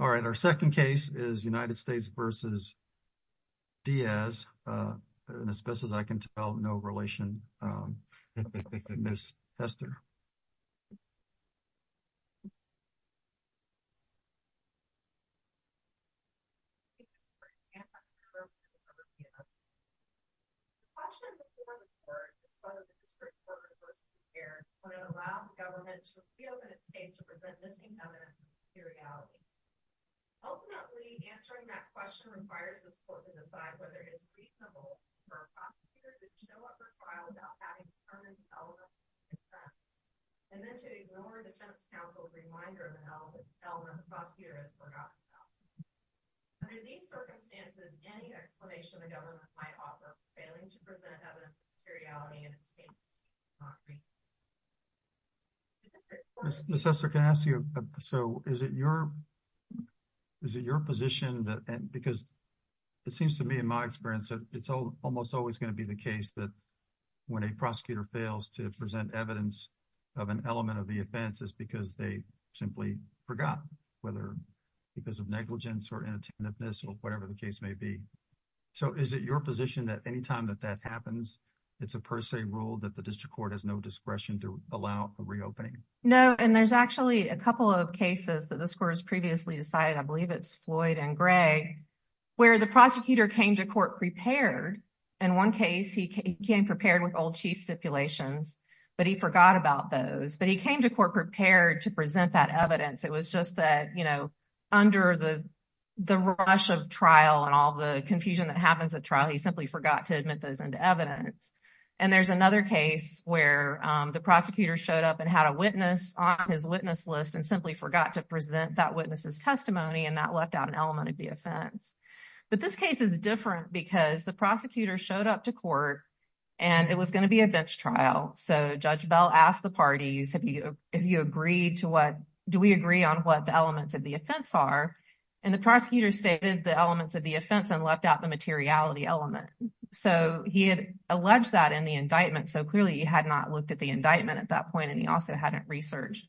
All right, our second case is United States v. Diaz, and as best as I can tell, no relation between the two. I'm going to pass it over to Ms. Hester. Question before the court, as part of the district court report this year, would it allow the government to feel that it's safe to present missing evidence of a superiority? Ultimately, answering that question requires the court to decide whether it is reasonable for prosecutors to show up for trial without a warrant. Under these circumstances, any explanation the government might offer of failing to present evidence of superiority in its case would not be appropriate. Mr. Hester, can I ask you, so is it your position that, because it seems to me in my experience that it's almost always going to be the case that when a prosecutor fails to present evidence of an element of the offense, it's because they simply forgot, whether because of negligence or inattentiveness or whatever the case may be. So is it your position that any time that that happens, it's a per se rule that the district court has no discretion to allow a reopening? No, and there's actually a couple of cases that this court has previously decided, I In one case, he came prepared with old chief stipulations, but he forgot about those. But he came to court prepared to present that evidence. It was just that, you know, under the rush of trial and all the confusion that happens at trial, he simply forgot to admit those into evidence. And there's another case where the prosecutor showed up and had a witness on his witness list and simply forgot to present that witness's testimony and that left out an element of the offense. But this case is different because the prosecutor showed up to court and it was going to be a bench trial. So Judge Bell asked the parties, have you, have you agreed to what, do we agree on what the elements of the offense are? And the prosecutor stated the elements of the offense and left out the materiality element. So he had alleged that in the indictment. So clearly he had not looked at the indictment at that point. And he also hadn't researched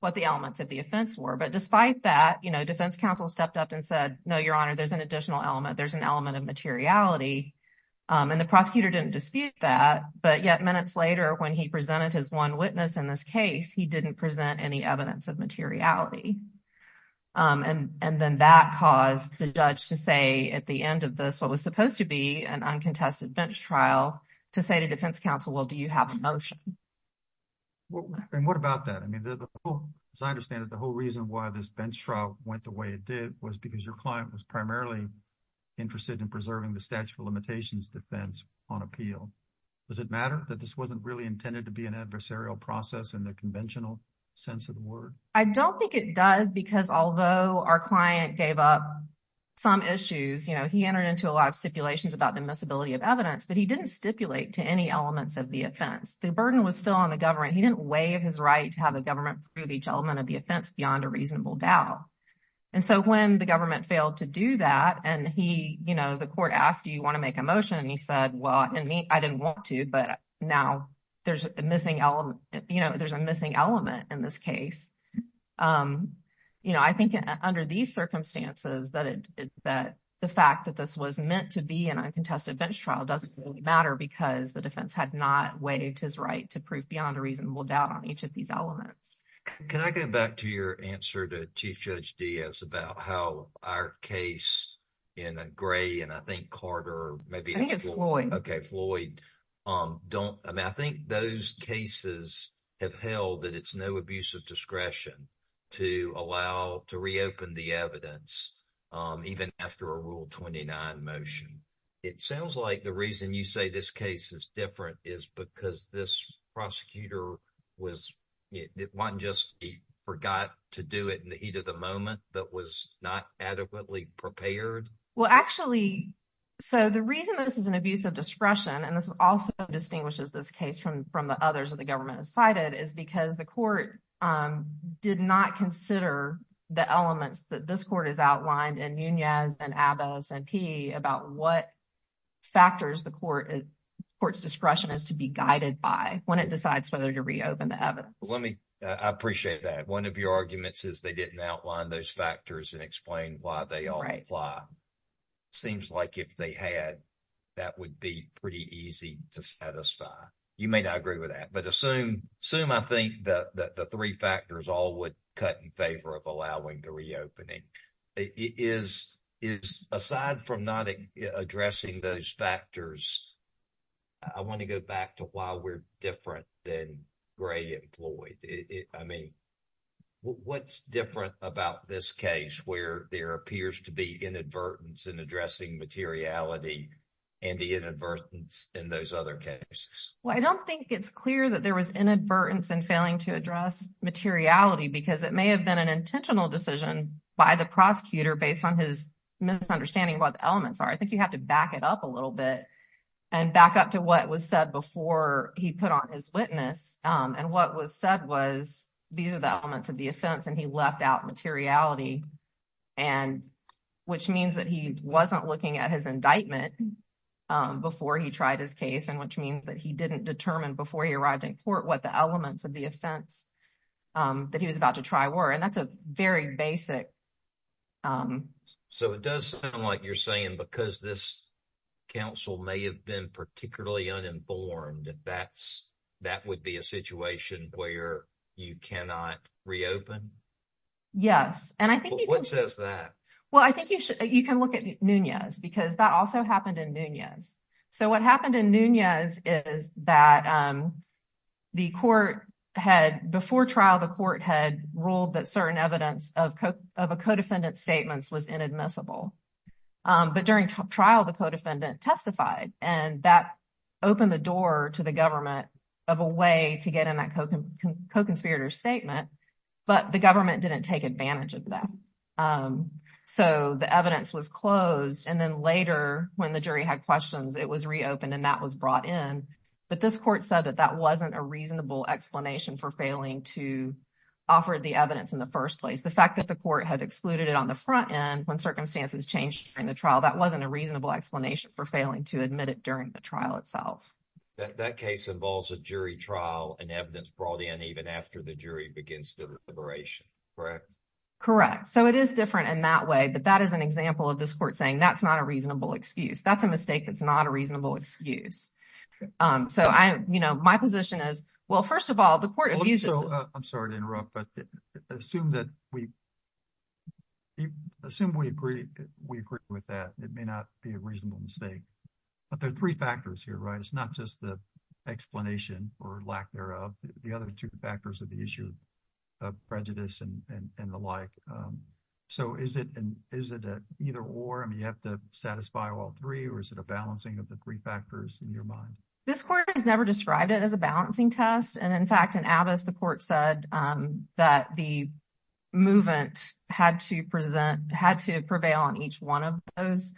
what the elements of the offense were. But despite that, you know, defense counsel stepped up and said, no, your honor, there's an additional element. There's an element of materiality. And the prosecutor didn't dispute that. But yet minutes later, when he presented his one witness in this case, he didn't present any evidence of materiality. And then that caused the judge to say at the end of this, what was supposed to be an uncontested bench trial to say to defense counsel, well, do you have a motion? And what about that? I mean, as I understand it, the whole reason why this bench trial went the way it did was because your client was primarily interested in preserving the statute of limitations defense on appeal. Does it matter that this wasn't really intended to be an adversarial process in the conventional sense of the word? I don't think it does, because although our client gave up some issues, you know, he entered into a lot of stipulations about the miscibility of evidence, but he didn't stipulate to any elements of the offense. The burden was still on the government. He didn't waive his right to have the government prove each element of the offense beyond a reasonable doubt. And so when the government failed to do that, and he, you know, the court asked, do you want to make a motion? And he said, well, I didn't want to, but now there's a missing element, you know, there's a missing element in this case. You know, I think under these circumstances, that the fact that this was meant to be an uncontested bench trial doesn't really matter because the defense had not waived his right to prove beyond a reasonable doubt on each of these elements. Can I go back to your answer to Chief Judge Diaz about how our case in a gray, and I think Carter, maybe it's Floyd, don't, I mean, I think those cases have held that it's no abuse of discretion to allow, to reopen the evidence, even after a Rule 29 motion. It sounds like the reason you say this case is different is because this prosecutor was, it wasn't just, he forgot to do it in the heat of the moment, but was not adequately prepared. Well, actually, so the reason this is an abuse of discretion, and this also distinguishes this case from the others that the government has cited, is because the court did not consider the elements that this court has outlined in Nunez and Abbas and Peay about what factors the court's discretion is to be guided by when it decides whether to reopen the evidence. Let me, I appreciate that. One of your arguments is they didn't outline those factors and explain why they all apply. It seems like if they had, that would be pretty easy to satisfy. You may not agree with that, but assume I think that the three factors all would cut in favor of allowing the reopening. Is, aside from not addressing those factors, I want to go back to why we're different than Gray and Floyd. I mean, what's different about this case where there appears to be inadvertence in addressing materiality and the inadvertence in those other cases? Well, I don't think it's clear that there was inadvertence in failing to address materiality because it may have been an intentional decision by the prosecutor based on his misunderstanding of what the elements are. I think you have to back it up a little bit and back up to what was said before he put on his witness. And what was said was, these are the elements of the offense, and he left out materiality, and which means that he wasn't looking at his indictment before he tried his case, and which means that he didn't determine before he arrived in court what the elements of the trial were. And that's a very basic... So, it does sound like you're saying because this counsel may have been particularly uninformed, that would be a situation where you cannot reopen? Yes, and I think... What says that? Well, I think you can look at Nunez because that also happened in Nunez. So, what happened in Nunez is that the court had, before trial, the court had ruled that certain evidence of a co-defendant's statements was inadmissible. But during trial, the co-defendant testified, and that opened the door to the government of a way to get in that co-conspirator's statement, but the government didn't take advantage of that. So, the evidence was closed, and then later, when the jury had questions, it was reopened, and that was brought in. But this court said that that wasn't a reasonable explanation for failing to offer the evidence in the first place. The fact that the court had excluded it on the front end when circumstances changed during the trial, that wasn't a reasonable explanation for failing to admit it during the trial itself. That case involves a jury trial and evidence brought in even after the jury begins deliberation, correct? Correct. So, it is different in that way, but that is an example of this court saying that's not a reasonable excuse. That's a mistake that's not a reasonable excuse. So, I'm, you know, my position is, well, first of all, the court abuses- I'm sorry to interrupt, but assume that we, assume we agree, we agree with that. It may not be a reasonable mistake. But there are three factors here, right? It's not just the explanation or lack thereof. The other two factors are the issue of prejudice and the like. So, is it an either or? I mean, you have to satisfy all three, or is it a balancing of the three factors in your mind? This court has never described it as a balancing test. And in fact, in Abbess, the court said that the movement had to present, had to prevail on each one of those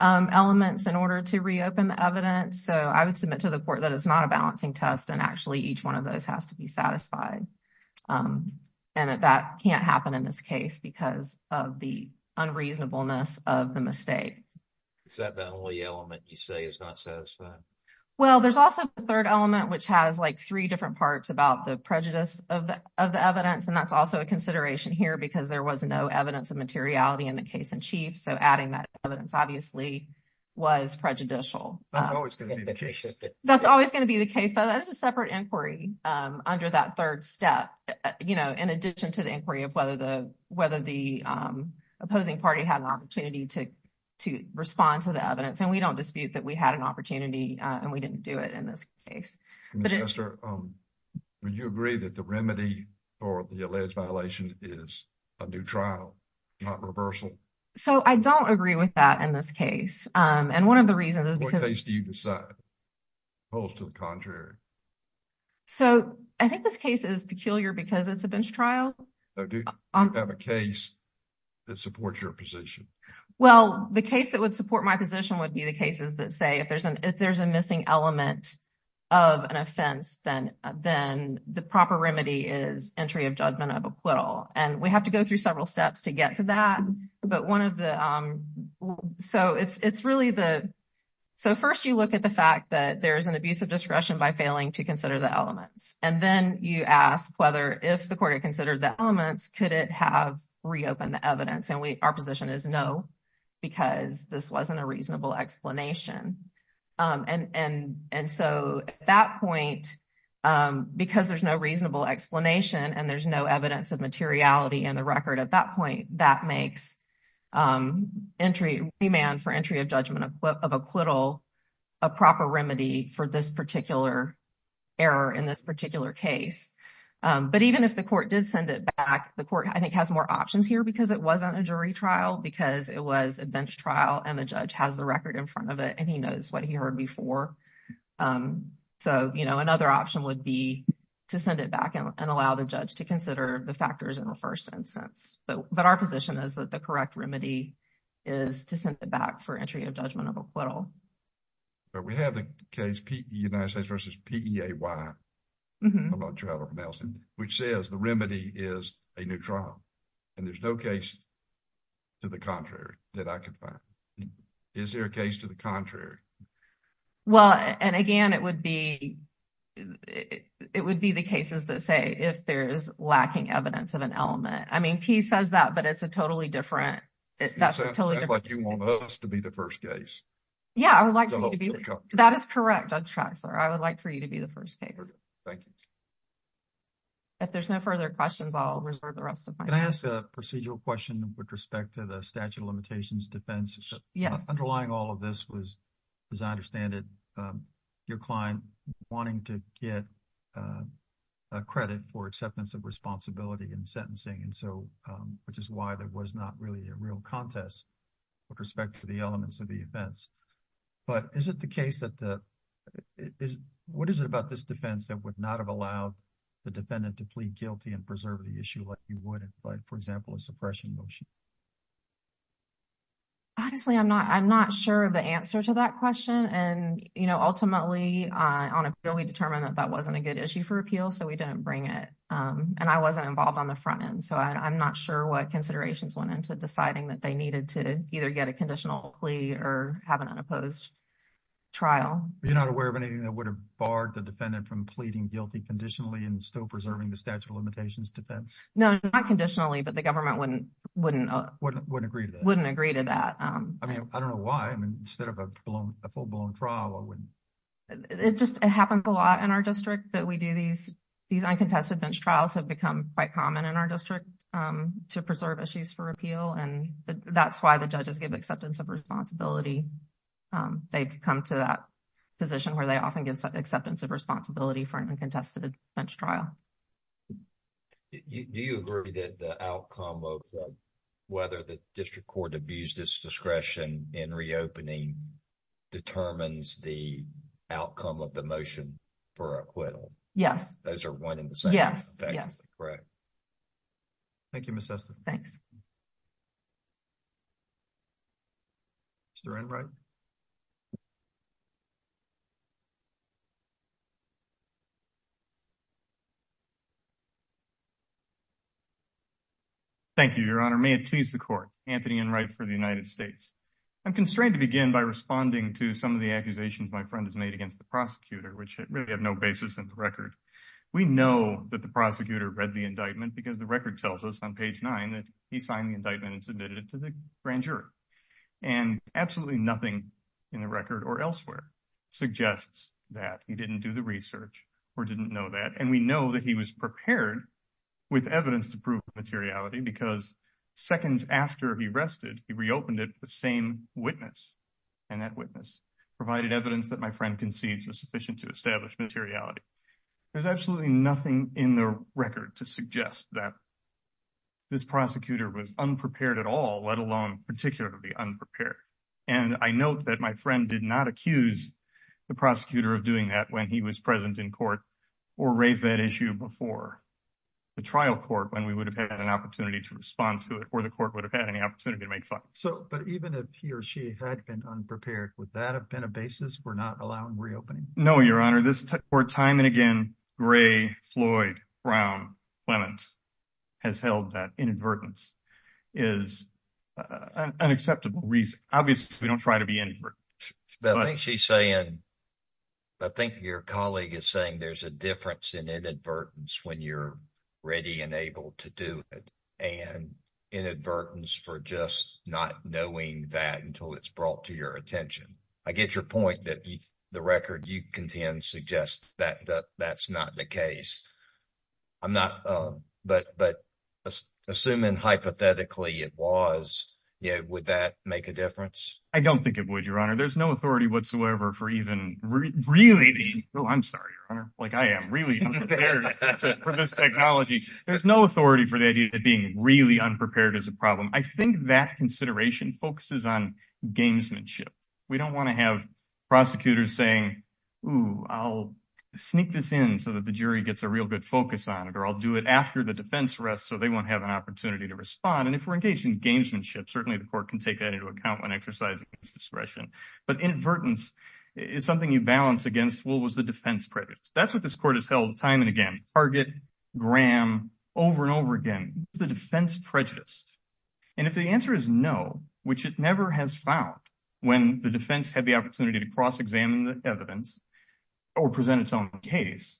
elements in order to reopen the evidence. So, I would submit to the court that it's not a balancing test and actually each one of those has to be satisfied. And that can't happen in this case because of the unreasonableness of the mistake. Is that the only element you say is not satisfied? Well, there's also the third element, which has like three different parts about the prejudice of the evidence. And that's also a consideration here because there was no evidence of materiality in the case in chief. So, adding that evidence obviously was prejudicial. That's always going to be the case. That's always going to be the case. But that's a separate inquiry under that third step, you know, in addition to the inquiry of whether the opposing party had an opportunity to respond to the evidence. And we don't dispute that we had an opportunity and we didn't do it in this case. Ms. Chester, would you agree that the remedy for the alleged violation is a new trial, not reversal? So, I don't agree with that in this case. And one of the reasons is because- To the contrary. So, I think this case is peculiar because it's a bench trial. So, do you have a case that supports your position? Well, the case that would support my position would be the cases that say, if there's a missing element of an offense, then the proper remedy is entry of judgment of acquittal. And we have to go through several steps to get to that. But one of the- So, it's really the- So, first you look at the fact that there's an abuse of discretion by failing to consider the elements. And then you ask whether if the court had considered the elements, could it have reopened the evidence? And our position is no, because this wasn't a reasonable explanation. And so, at that point, because there's no reasonable explanation and there's no evidence of materiality in the record at that point, that makes remand for entry of judgment of acquittal a proper remedy for this particular error in this particular case. But even if the court did send it back, the court, I think, has more options here because it wasn't a jury trial, because it was a bench trial and the judge has the record in front of it and he knows what he heard before. So, you know, another option would be to send it back and allow the judge to consider the factors in the first instance. But our position is that the correct remedy is to send it back for entry of judgment of acquittal. But we have the case United States versus PEAY, I'm not sure how to pronounce it, which says the remedy is a new trial. And there's no case to the contrary that I can find. Is there a case to the contrary? Well, and again, it would be, it would be the cases that say if there's lacking evidence of an element. I mean, PEAY says that, but it's a totally different, that's a totally different. It sounds like you want us to be the first case. Yeah, I would like to be, that is correct, Judge Traxler. I would like for you to be the first case. Thank you. If there's no further questions, I'll reserve the rest of my time. Can I ask a procedural question with respect to the statute of limitations defense? Yes. Underlying all of this was, as I understand it, your client wanting to get a credit for acceptance of responsibility and sentencing. And so, which is why there was not really a real contest with respect to the elements of the offense. But is it the case that the, is, what is it about this defense that would not have allowed the defendant to plead guilty and preserve the issue like you would, like, for example, a suppression motion? Honestly, I'm not, I'm not sure of the answer to that question. And, you know, ultimately, on appeal, we determined that that wasn't a good issue for appeal, so we didn't bring it. And I wasn't involved on the front end, so I'm not sure what considerations went into deciding that they needed to either get a conditional plea or have an unopposed trial. You're not aware of anything that would have barred the defendant from pleading guilty conditionally and still preserving the statute of limitations defense? No, not conditionally, but the government wouldn't, wouldn't, wouldn't agree to that. I mean, I don't know why. I mean, instead of a full-blown trial, I wouldn't. It just, it happens a lot in our district that we do these, these uncontested bench trials have become quite common in our district to preserve issues for appeal. And that's why the judges give acceptance of responsibility. They've come to that position where they often give acceptance of responsibility for an uncontested bench trial. Do you agree that the outcome of whether the district court abused its discretion in reopening determines the outcome of the motion for acquittal? Yes. Those are one and the same. Yes, yes. Correct. Thank you, Ms. Sester. Thanks. Mr. Enright? Thank you, Your Honor. May it please the court. Anthony Enright for the United States. I'm constrained to begin by responding to some of the accusations my friend has made against the prosecutor, which really have no basis in the record. We know that the prosecutor read the indictment because the record tells us on page nine that he signed the indictment and submitted it to the grand jury. And absolutely nothing in the record or elsewhere suggests that he didn't do the research or didn't know that. And we know that he was prepared with evidence to prove materiality because seconds after he rested, he reopened it with the same witness. And that witness provided evidence that my friend concedes was sufficient to establish materiality. There's absolutely nothing in the record to suggest that this prosecutor was unprepared at all, let alone particularly unprepared. And I note that my friend did not accuse the prosecutor of doing that when he was present in court or raise that issue before the trial court when we would have had an opportunity to respond to it or the court would have had any opportunity to make fun. So but even if he or she had been unprepared, would that have been a basis for not allowing reopening? No, Your Honor. This time and again, Gray, Floyd, Brown, Clement has held that inadvertence is an acceptable reason. Obviously, we don't try to be inadvertent. But I think she's saying, I think your colleague is saying there's a difference in inadvertence when you're ready and able to do it and inadvertence for just not knowing that until it's brought to your attention. I get your point that the record you contend suggests that that's not the case. I'm not but but assuming hypothetically it was, yeah, would that make a difference? I don't think it would, Your Honor. There's no authority whatsoever for even really being. Oh, I'm sorry, Your Honor. Like I am really unprepared for this technology. There's no authority for the idea that being really unprepared is a problem. I think that consideration focuses on gamesmanship. We don't want to have prosecutors saying, oh, I'll sneak this in so that the jury gets a real good focus on it or I'll do it after the defense rests so they won't have an opportunity to respond. And if we're engaged in gamesmanship, certainly the court can take that into account when exercising discretion. But inadvertence is something you balance against. What was the defense prejudice? That's what this court has held time and again. Target Graham over and over again, the defense prejudice. And if the answer is no, which it never has found when the defense had the opportunity to cross examine the evidence or present its own case,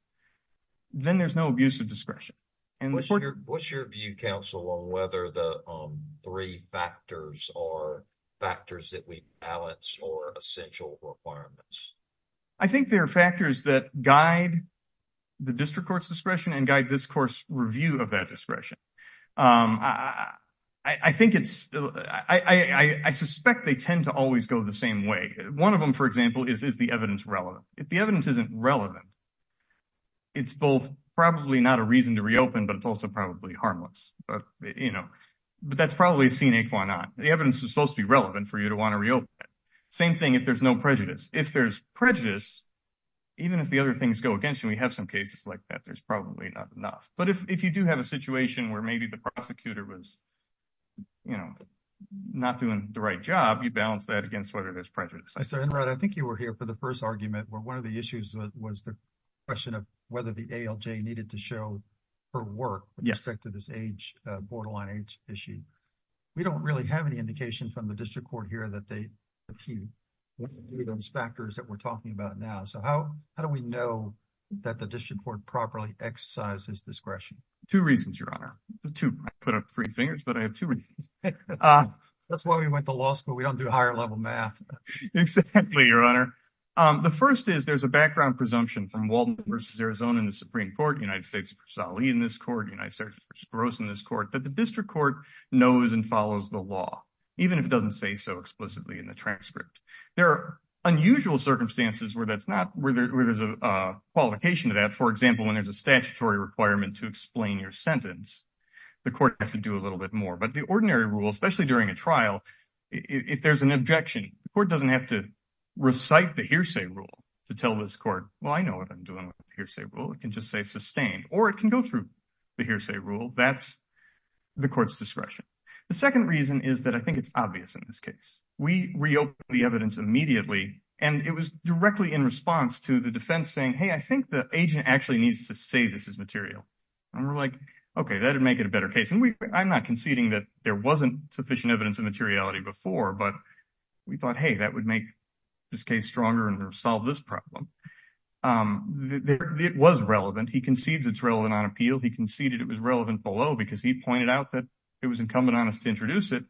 then there's no abuse of discretion. What's your view, counsel, on whether the three factors are factors that we balance or essential requirements? I think there are factors that guide the district court's discretion and guide this court's review of that discretion. I think it's I suspect they tend to always go the same way. One of them, for example, is the evidence relevant. If the evidence isn't relevant, it's both probably not a reason to reopen, but it's also probably harmless. But, you know, but that's probably a scenic. Why not? The evidence is supposed to be relevant for you to want to reopen. Same thing if there's no prejudice. If there's prejudice, even if the other things go against you, we have some cases like that. There's probably not enough. But if you do have a situation where maybe the prosecutor was, you know, not doing the right job, you balance that against whether there's prejudice. I said, I think you were here for the first argument where one of the issues was the question whether the ALJ needed to show her work with respect to this age, borderline age issue. We don't really have any indication from the district court here that they review those factors that we're talking about now. So how do we know that the district court properly exercises discretion? Two reasons, Your Honor. Two. I put up three fingers, but I have two reasons. That's why we went to law school. We don't do higher level math. Exactly, Your Honor. The first is there's a background presumption from Walden versus Arizona in the Supreme Court, United States versus Ali in this court, United States versus Spiros in this court that the district court knows and follows the law, even if it doesn't say so explicitly in the transcript. There are unusual circumstances where there's a qualification to that. For example, when there's a statutory requirement to explain your sentence, the court has to do a little bit more. But the ordinary rule, especially during a trial, if there's an objection, the court doesn't have to recite the hearsay rule to tell this court, well, I know what I'm doing with hearsay rule. It can just say sustained, or it can go through the hearsay rule. That's the court's discretion. The second reason is that I think it's obvious in this case. We reopened the evidence immediately, and it was directly in response to the defense saying, hey, I think the agent actually needs to say this is material. And we're like, OK, that would make it a better case. And I'm not conceding that there wasn't sufficient evidence of materiality before, but we thought, hey, that would make this case stronger and solve this problem. It was relevant. He concedes it's relevant on appeal. He conceded it was relevant below because he pointed out that it was incumbent on us to introduce it.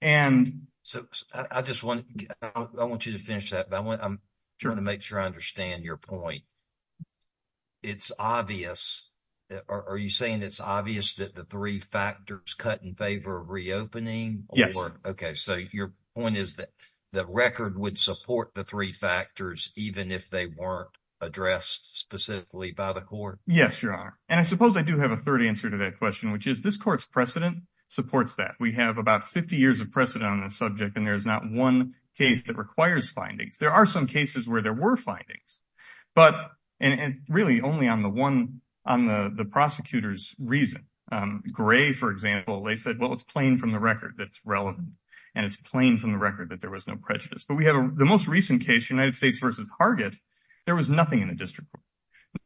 And so I just want you to finish that. But I'm trying to make sure I understand your point. It's obvious. Are you saying it's obvious that the three factors cut in favor of reopening? Yes. OK, so your point is that the record would support the three factors even if they weren't addressed specifically by the court? Yes, Your Honor. And I suppose I do have a third answer to that question, which is this court's precedent supports that. We have about 50 years of precedent on this subject, and there is not one case that requires findings. There are some cases where there were findings, but really only on the one on the prosecutor's reason. Gray, for example, they said, well, it's plain from the record. That's relevant. And it's plain from the record that there was no prejudice. But we have the most recent case, United States versus Hargett. There was nothing in the district.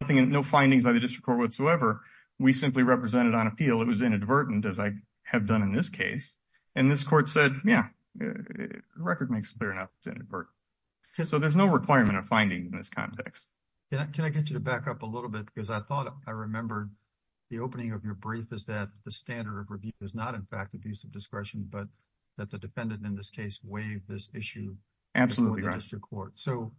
No findings by the district court whatsoever. We simply represented on appeal. It was inadvertent, as I have done in this case. And this court said, yeah, record makes it clear enough. So there's no requirement of finding in this context. Can I get you to back up a little bit? Because I thought I remembered the opening of your brief is that the standard of review is not, in fact, abuse of discretion, but that the defendant in this case waived this issue before the district court. So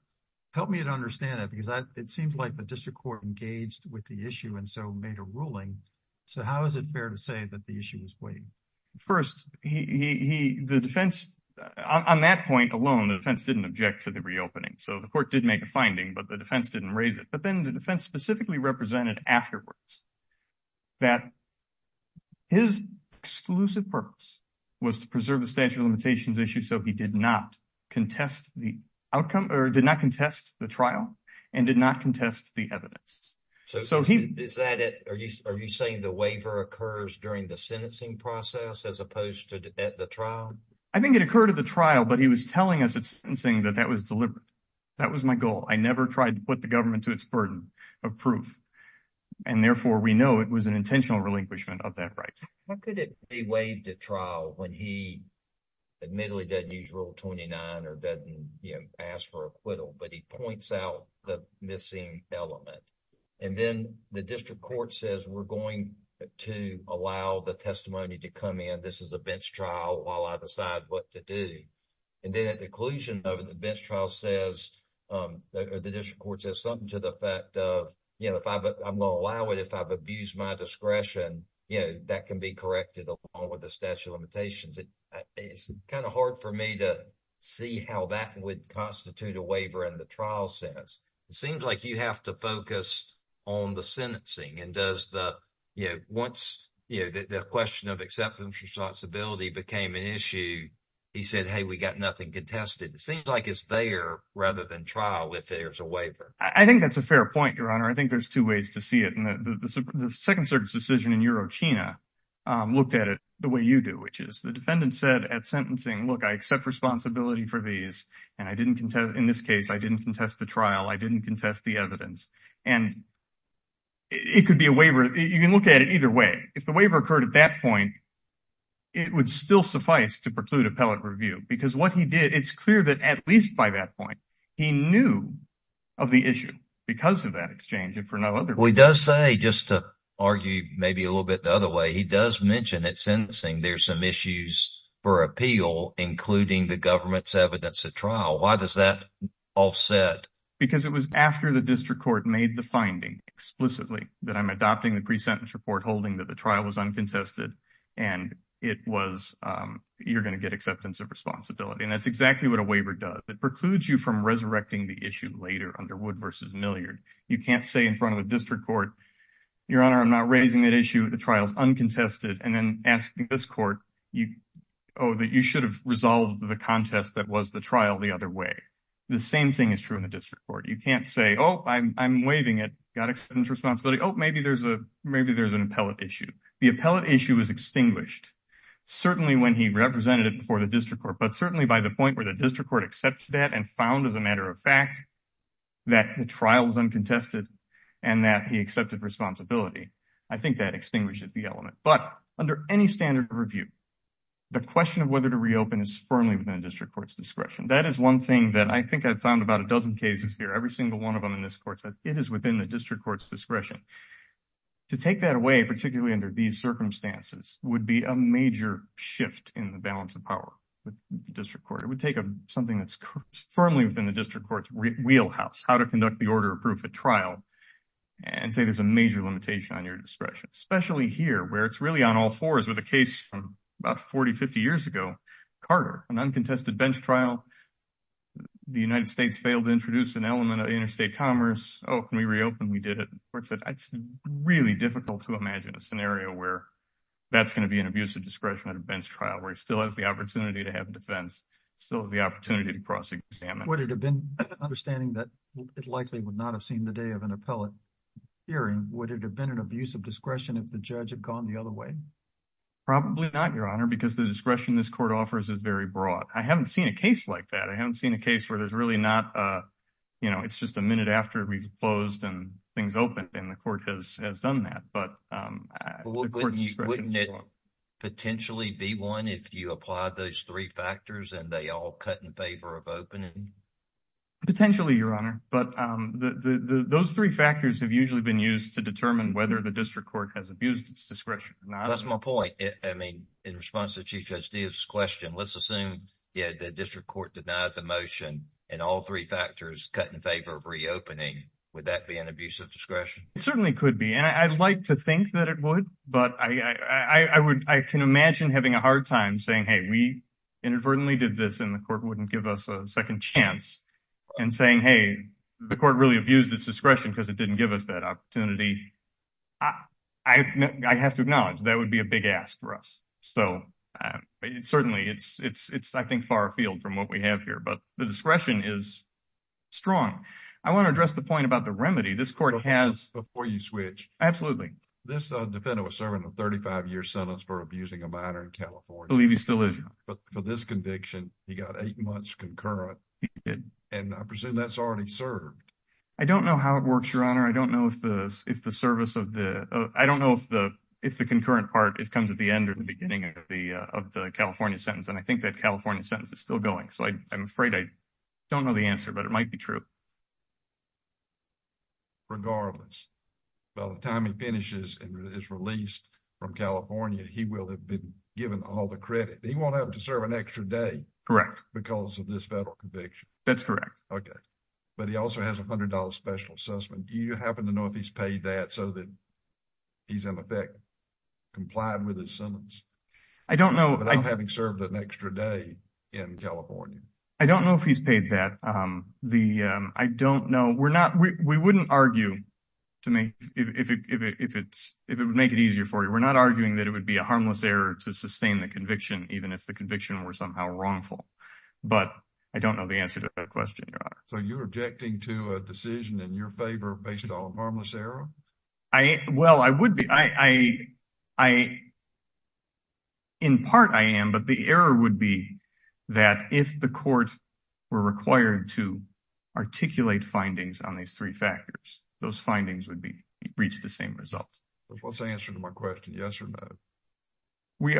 help me to understand that, because it seems like the district court engaged with the issue and so made a ruling. So how is it fair to say that the issue is waived? First, the defense, on that point alone, the defense didn't object to the reopening. So the court did make a finding, but the defense didn't raise it. But then the defense specifically represented afterwards that his exclusive purpose was to preserve the statute of limitations issue. So he did not contest the outcome or did not contest the trial and did not contest the evidence. So is that it? Are you saying the waiver occurs during the sentencing process as opposed to at the trial? I think it occurred at the trial, but he was telling us at sentencing that that was deliberate. That was my goal. I never tried to put the government to its burden of proof, and therefore we know it was an intentional relinquishment of that right. How could it be waived at trial when he admittedly doesn't use Rule 29 or doesn't, you know, ask for acquittal, but he points out the missing element? And then the district court says, we're going to allow the testimony to come in. This is a bench trial while I decide what to do. And then at the conclusion of it, the bench trial says, or the district court says something to the effect of, you know, I'm going to allow it if I've abused my discretion. You know, that can be corrected along with the statute of limitations. It's kind of hard for me to see how that would constitute a waiver in the trial sense. It seems like you have to focus on the sentencing. And does the, you know, once, you know, the question of acceptance responsibility became an issue, he said, hey, we got nothing contested. It seems like it's there rather than trial if there's a waiver. I think that's a fair point, Your Honor. I think there's two ways to see it. And the Second Circuit's decision in Eurochina looked at it the way you do, which is the defendant said at sentencing, look, I accept responsibility for these. And I didn't, in this case, I didn't contest the trial. I didn't contest the evidence. And it could be a waiver. You can look at it either way. If the waiver occurred at that point, it would still suffice to preclude appellate review. Because what he did, it's clear that at least by that point, he knew of the issue because of that exchange and for no other reason. He does say, just to argue maybe a little bit the other way, he does mention at sentencing there's some issues for appeal, including the government's evidence at trial. Why does that offset? Because it was after the district court made the finding explicitly that I'm adopting the pre-sentence report holding that the trial was uncontested. And it was, you're going to get acceptance of responsibility. And that's exactly what a waiver does. It precludes you from resurrecting the issue later under Wood v. Milliard. You can't say in front of a district court, Your Honor, I'm not raising that issue. The trial's uncontested. And then asking this court, oh, that you should have resolved the contest that was the trial the other way. The same thing is true in the district court. You can't say, oh, I'm waiving it, got acceptance responsibility. Maybe there's an appellate issue. The appellate issue is extinguished, certainly when he represented it before the district court, but certainly by the point where the district court accepts that and found as a matter of fact that the trial was uncontested and that he accepted responsibility. I think that extinguishes the element. But under any standard of review, the question of whether to reopen is firmly within the district court's discretion. That is one thing that I think I've found about a dozen cases here. Every single one of them in this court, it is within the district court's discretion. To take that away, particularly under these circumstances, would be a major shift in the balance of power. The district court would take something that's firmly within the district court's wheelhouse, how to conduct the order of proof at trial and say there's a major limitation on your discretion, especially here where it's really on all fours with a case from about 40, 50 years ago, Carter, an uncontested bench trial. The United States failed to introduce an element of interstate commerce. Oh, can we reopen? We did it. It's really difficult to imagine a scenario where that's going to be an abusive discretion at a bench trial where he still has the opportunity to have a defense, still has the opportunity to cross examine. Would it have been understanding that it likely would not have seen the day of an appellate hearing, would it have been an abusive discretion if the judge had gone the other way? Probably not, Your Honor, because the discretion this court offers is very broad. I haven't seen a case like that. I haven't seen a case where there's really not, you know, it's just a minute after we've closed and things open and the court has done that. But wouldn't it potentially be one if you apply those three factors and they all cut in favor of opening? Potentially, Your Honor, but those three factors have usually been used to determine whether the district court has abused its discretion. That's my point. I mean, in response to Chief Judge Steeves' question, let's assume the district court denied the motion and all three factors cut in favor of reopening. Would that be an abusive discretion? It certainly could be, and I'd like to think that it would, but I can imagine having a hard time saying, hey, we inadvertently did this and the court wouldn't give us a second chance and saying, hey, the court really abused its discretion because it didn't give us that opportunity. I have to acknowledge that would be a big ask for us. So, certainly, it's, I think, far afield from what we have here, but the discretion is strong. I want to address the point about the remedy. This court has— Before you switch. Absolutely. This defendant was serving a 35-year sentence for abusing a minor in California. I believe he still is, Your Honor. For this conviction, he got eight months concurrent. He did. And I presume that's already served. I don't know how it works, Your Honor. I don't know if the service of the—I don't know if the concurrent part comes at the end or the beginning of the California sentence. And I think that California sentence is still going. So, I'm afraid I don't know the answer, but it might be true. Regardless, by the time he finishes and is released from California, he will have been given all the credit. He won't have to serve an extra day. Correct. Because of this federal conviction. That's correct. Okay. But he also has a $100 special assessment. Do you happen to know if he's paid that so that he's, in effect, complied with his sentence? I don't know— Without having served an extra day in California. I don't know if he's paid that. I don't know. We're not—we wouldn't argue, to me, if it would make it easier for you. We're not arguing that it would be a harmless error to sustain the conviction, even if the conviction were somehow wrongful. But I don't know the answer to that question, Your Honor. So, you're objecting to a decision in your favor based on a harmless error? Well, I would be. In part, I am, but the error would be that if the court were required to articulate findings on these three factors, those findings would reach the same result. What's the answer to my question? Yes or no? We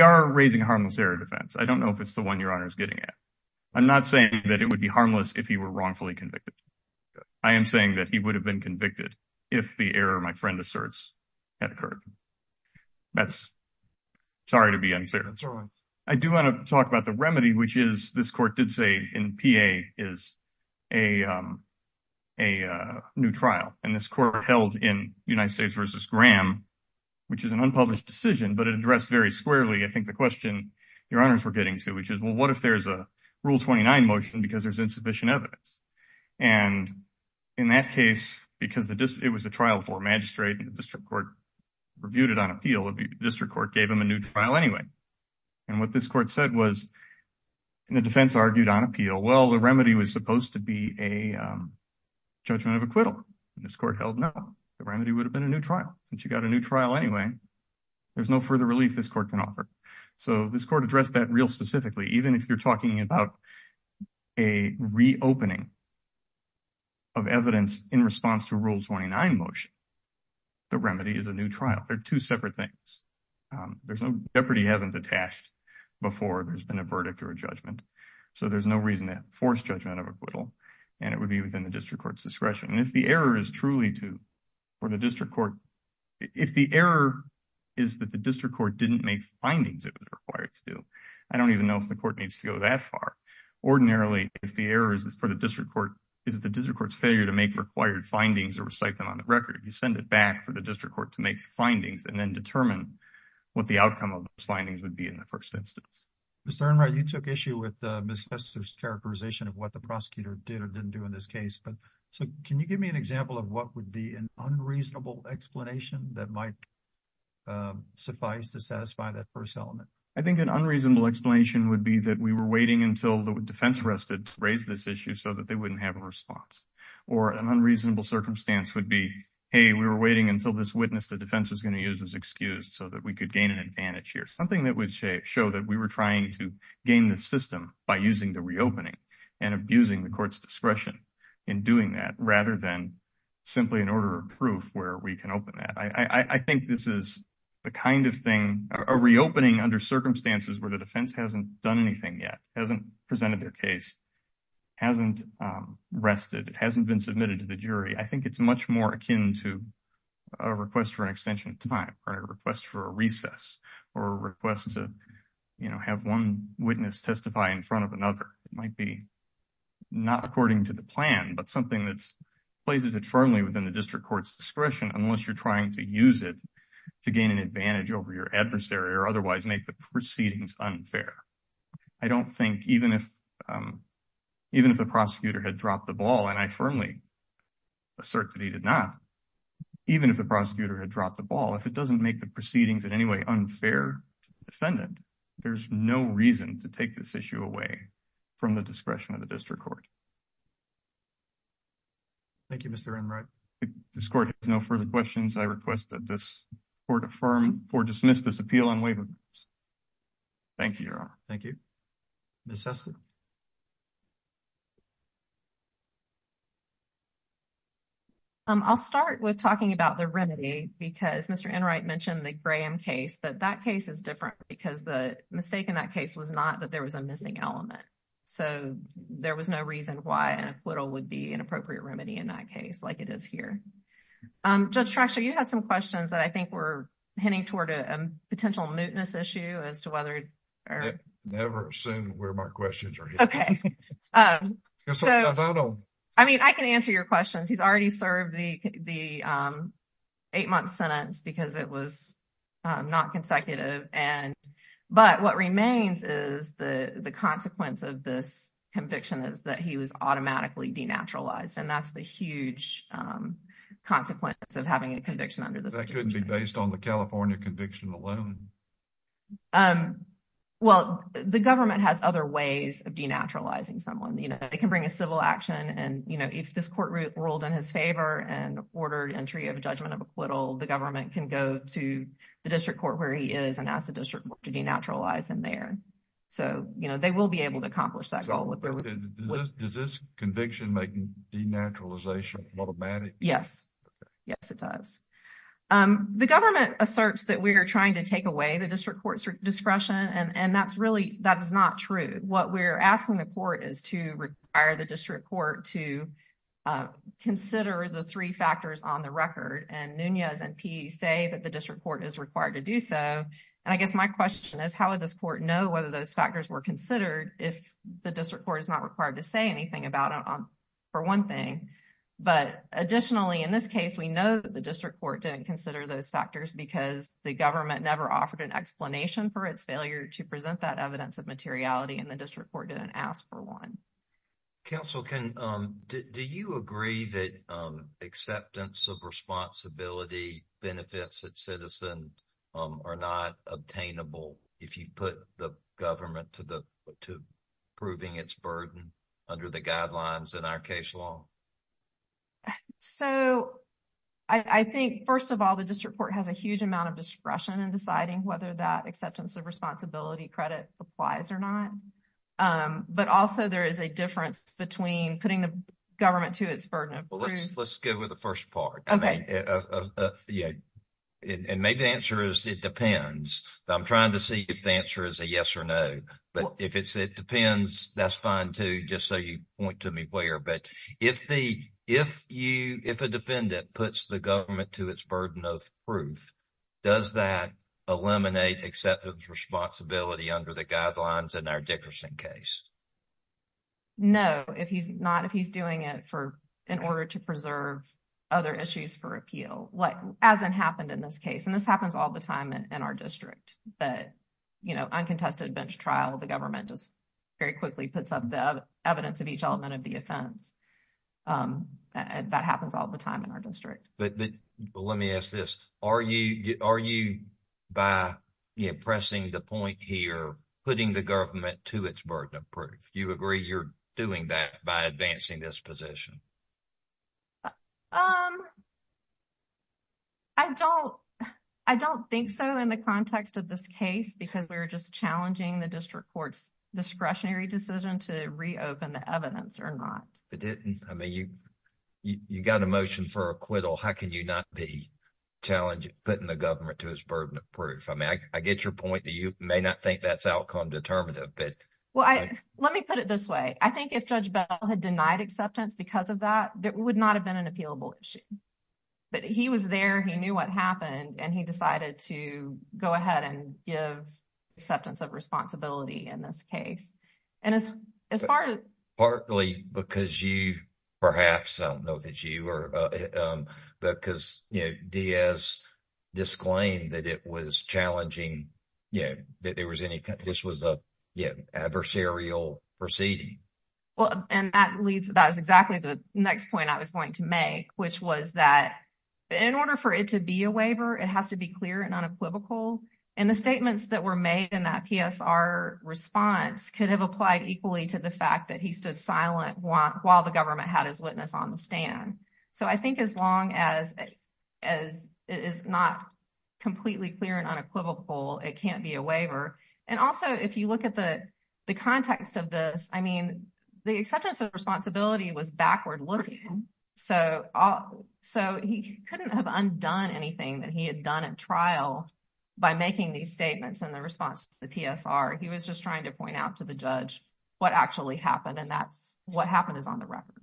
are raising a harmless error defense. I don't know if it's the one Your Honor is getting at. I'm not saying that it would be harmless if he were wrongfully convicted. I am saying that he would have been convicted if the error my friend asserts had occurred. That's—sorry to be unfair. That's all right. I do want to talk about the remedy, which is—this court did say in PA is a new trial. And this court held in United States v. Graham, which is an unpublished decision, but it addressed very squarely, I think, the question Your Honors were getting to, which is, well, what if there's Rule 29 motion because there's insufficient evidence? And in that case, because it was a trial for a magistrate, the district court reviewed it on appeal, the district court gave him a new trial anyway. And what this court said was, and the defense argued on appeal, well, the remedy was supposed to be a judgment of acquittal. This court held no. The remedy would have been a new trial. But you got a new trial anyway. There's no further relief this court can offer. So this court addressed that real specifically. Even if you're talking about a reopening of evidence in response to Rule 29 motion, the remedy is a new trial. They're two separate things. There's no—Jeopardy hasn't detached before there's been a verdict or a judgment. So there's no reason to force judgment of acquittal. And it would be within the district court's discretion. And if the error is truly to—or the district court—if the error is that the district court didn't make findings it was required to do, I don't even know if the court needs to go that far. Ordinarily, if the error is for the district court—is the district court's failure to make required findings or recite them on the record, you send it back for the district court to make findings and then determine what the outcome of those findings would be in the first instance. Mr. Enright, you took issue with Ms. Fester's characterization of what the prosecutor did or didn't do in this case. But so can you give me an example of what would be an unreasonable explanation that might suffice to satisfy that first element? I think an unreasonable explanation would be that we were waiting until the defense arrested to raise this issue so that they wouldn't have a response. Or an unreasonable circumstance would be, hey, we were waiting until this witness the defense was going to use was excused so that we could gain an advantage here. Something that would show that we were trying to gain the system by using the reopening and abusing the court's discretion in doing that rather than simply an order of proof where we can open that. I think this is the kind of thing, a reopening under circumstances where the defense hasn't done anything yet, hasn't presented their case, hasn't rested, hasn't been submitted to the jury. I think it's much more akin to a request for an extension of time or a request for a recess or a request to have one witness testify in front of another. It might be not according to the plan, but something that places it firmly within the court's discretion to use it to gain an advantage over your adversary or otherwise make the proceedings unfair. I don't think even if the prosecutor had dropped the ball, and I firmly assert that he did not, even if the prosecutor had dropped the ball, if it doesn't make the proceedings in any way unfair to the defendant, there's no reason to take this issue away from the discretion of the district court. Thank you, Mr. Enright. This court has no further questions. I request that this court affirm or dismiss this appeal on waivement. Thank you, Your Honor. Thank you. Ms. Hesley? I'll start with talking about the remedy because Mr. Enright mentioned the Graham case, but that case is different because the mistake in that case was not that there was a missing element. So there was no reason why an acquittal would be an appropriate remedy in that case like it is here. Judge Traxler, you had some questions that I think were heading toward a potential mootness issue as to whether— Never assume where my questions are heading. Okay. I mean, I can answer your questions. He's already served the eight-month sentence because it was not consecutive, but what remains is the consequence of this conviction is that he was automatically denaturalized, and that's a huge consequence of having a conviction under this— That couldn't be based on the California conviction alone. Well, the government has other ways of denaturalizing someone. You know, they can bring a civil action, and, you know, if this court ruled in his favor and ordered entry of a judgment of acquittal, the government can go to the district court where he is and ask the district court to denaturalize him there. So, you know, they will be able to accomplish that goal. Does this conviction make denaturalization automatic? Yes. Yes, it does. The government asserts that we are trying to take away the district court's discretion, and that's really—that is not true. What we're asking the court is to require the district court to consider the three factors on the record, and Nunez and Peay say that the district court is required to do so, and I guess my question is, how would this court know whether those factors were considered if the district court is not required to say anything about it, for one thing? But additionally, in this case, we know that the district court didn't consider those factors because the government never offered an explanation for its failure to present that evidence of materiality, and the district court didn't ask for one. Counsel, can—do you agree that acceptance of responsibility benefits that citizen are not obtainable if you put the government to the—to proving its burden under the guidelines in our case law? So, I think, first of all, the district court has a huge amount of discretion in deciding whether that acceptance of responsibility credit applies or not, but also there is a difference between putting the government to its burden of— Well, let's go with the first part. Okay. Yeah, and maybe the answer is it depends, but I'm trying to see if the answer is a yes or no, but if it's it depends, that's fine, too, just so you point to me where, but if the—if you—if a defendant puts the government to its burden of proof, does that eliminate acceptance of responsibility under the guidelines in our Dickerson case? No, if he's not—if he's doing it for—in order to preserve other issues for appeal, what hasn't happened in this case, and this happens all the time in our district, but, you know, uncontested bench trial, the government just very quickly puts up the evidence of each element of the offense, and that happens all the time in our district. But—but let me ask this. Are you—are you, by, you know, pressing the point here, putting the government to its burden of proof, you agree you're doing that by advancing this position? Um, I don't—I don't think so in the context of this case because we're just challenging the district court's discretionary decision to reopen the evidence or not. It didn't—I mean, you—you got a motion for acquittal. How can you not be challenging—putting the government to its burden of proof? I mean, I get your point that you may not think that's outcome-determinative, but— Well, I—let me put it this way. I think if Judge Bell had denied acceptance because of that, that would not have been an appealable issue. But he was there, he knew what happened, and he decided to go ahead and give acceptance of responsibility in this case. And as—as far as— Partly because you—perhaps, I don't know if it's you or—because, you know, Diaz disclaimed that it was challenging, you know, that there was any—this was a, you know, adversarial proceeding. Well, and that leads—that is exactly the next point I was going to make, which was that in order for it to be a waiver, it has to be clear and unequivocal. And the statements that were made in that PSR response could have applied equally to the fact that he stood silent while the government had his witness on the stand. So I think as long as—as it is not completely clear and unequivocal, it can't be a waiver. And also, if you look at the—the context of this, I mean, the acceptance of responsibility was backward-looking. So—so he couldn't have undone anything that he had done at trial by making these statements in the response to the PSR. He was just trying to point out to the judge what actually happened, and that's—what happened is on the record.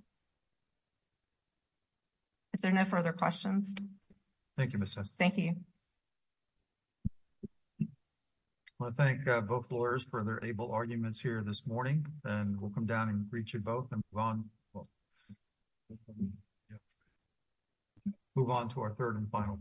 If there are no further questions. Thank you, Ms. Sessions. Thank you. I want to thank both lawyers for their able arguments here this morning, and we'll come down and greet you both and move on—move on to our third and final case.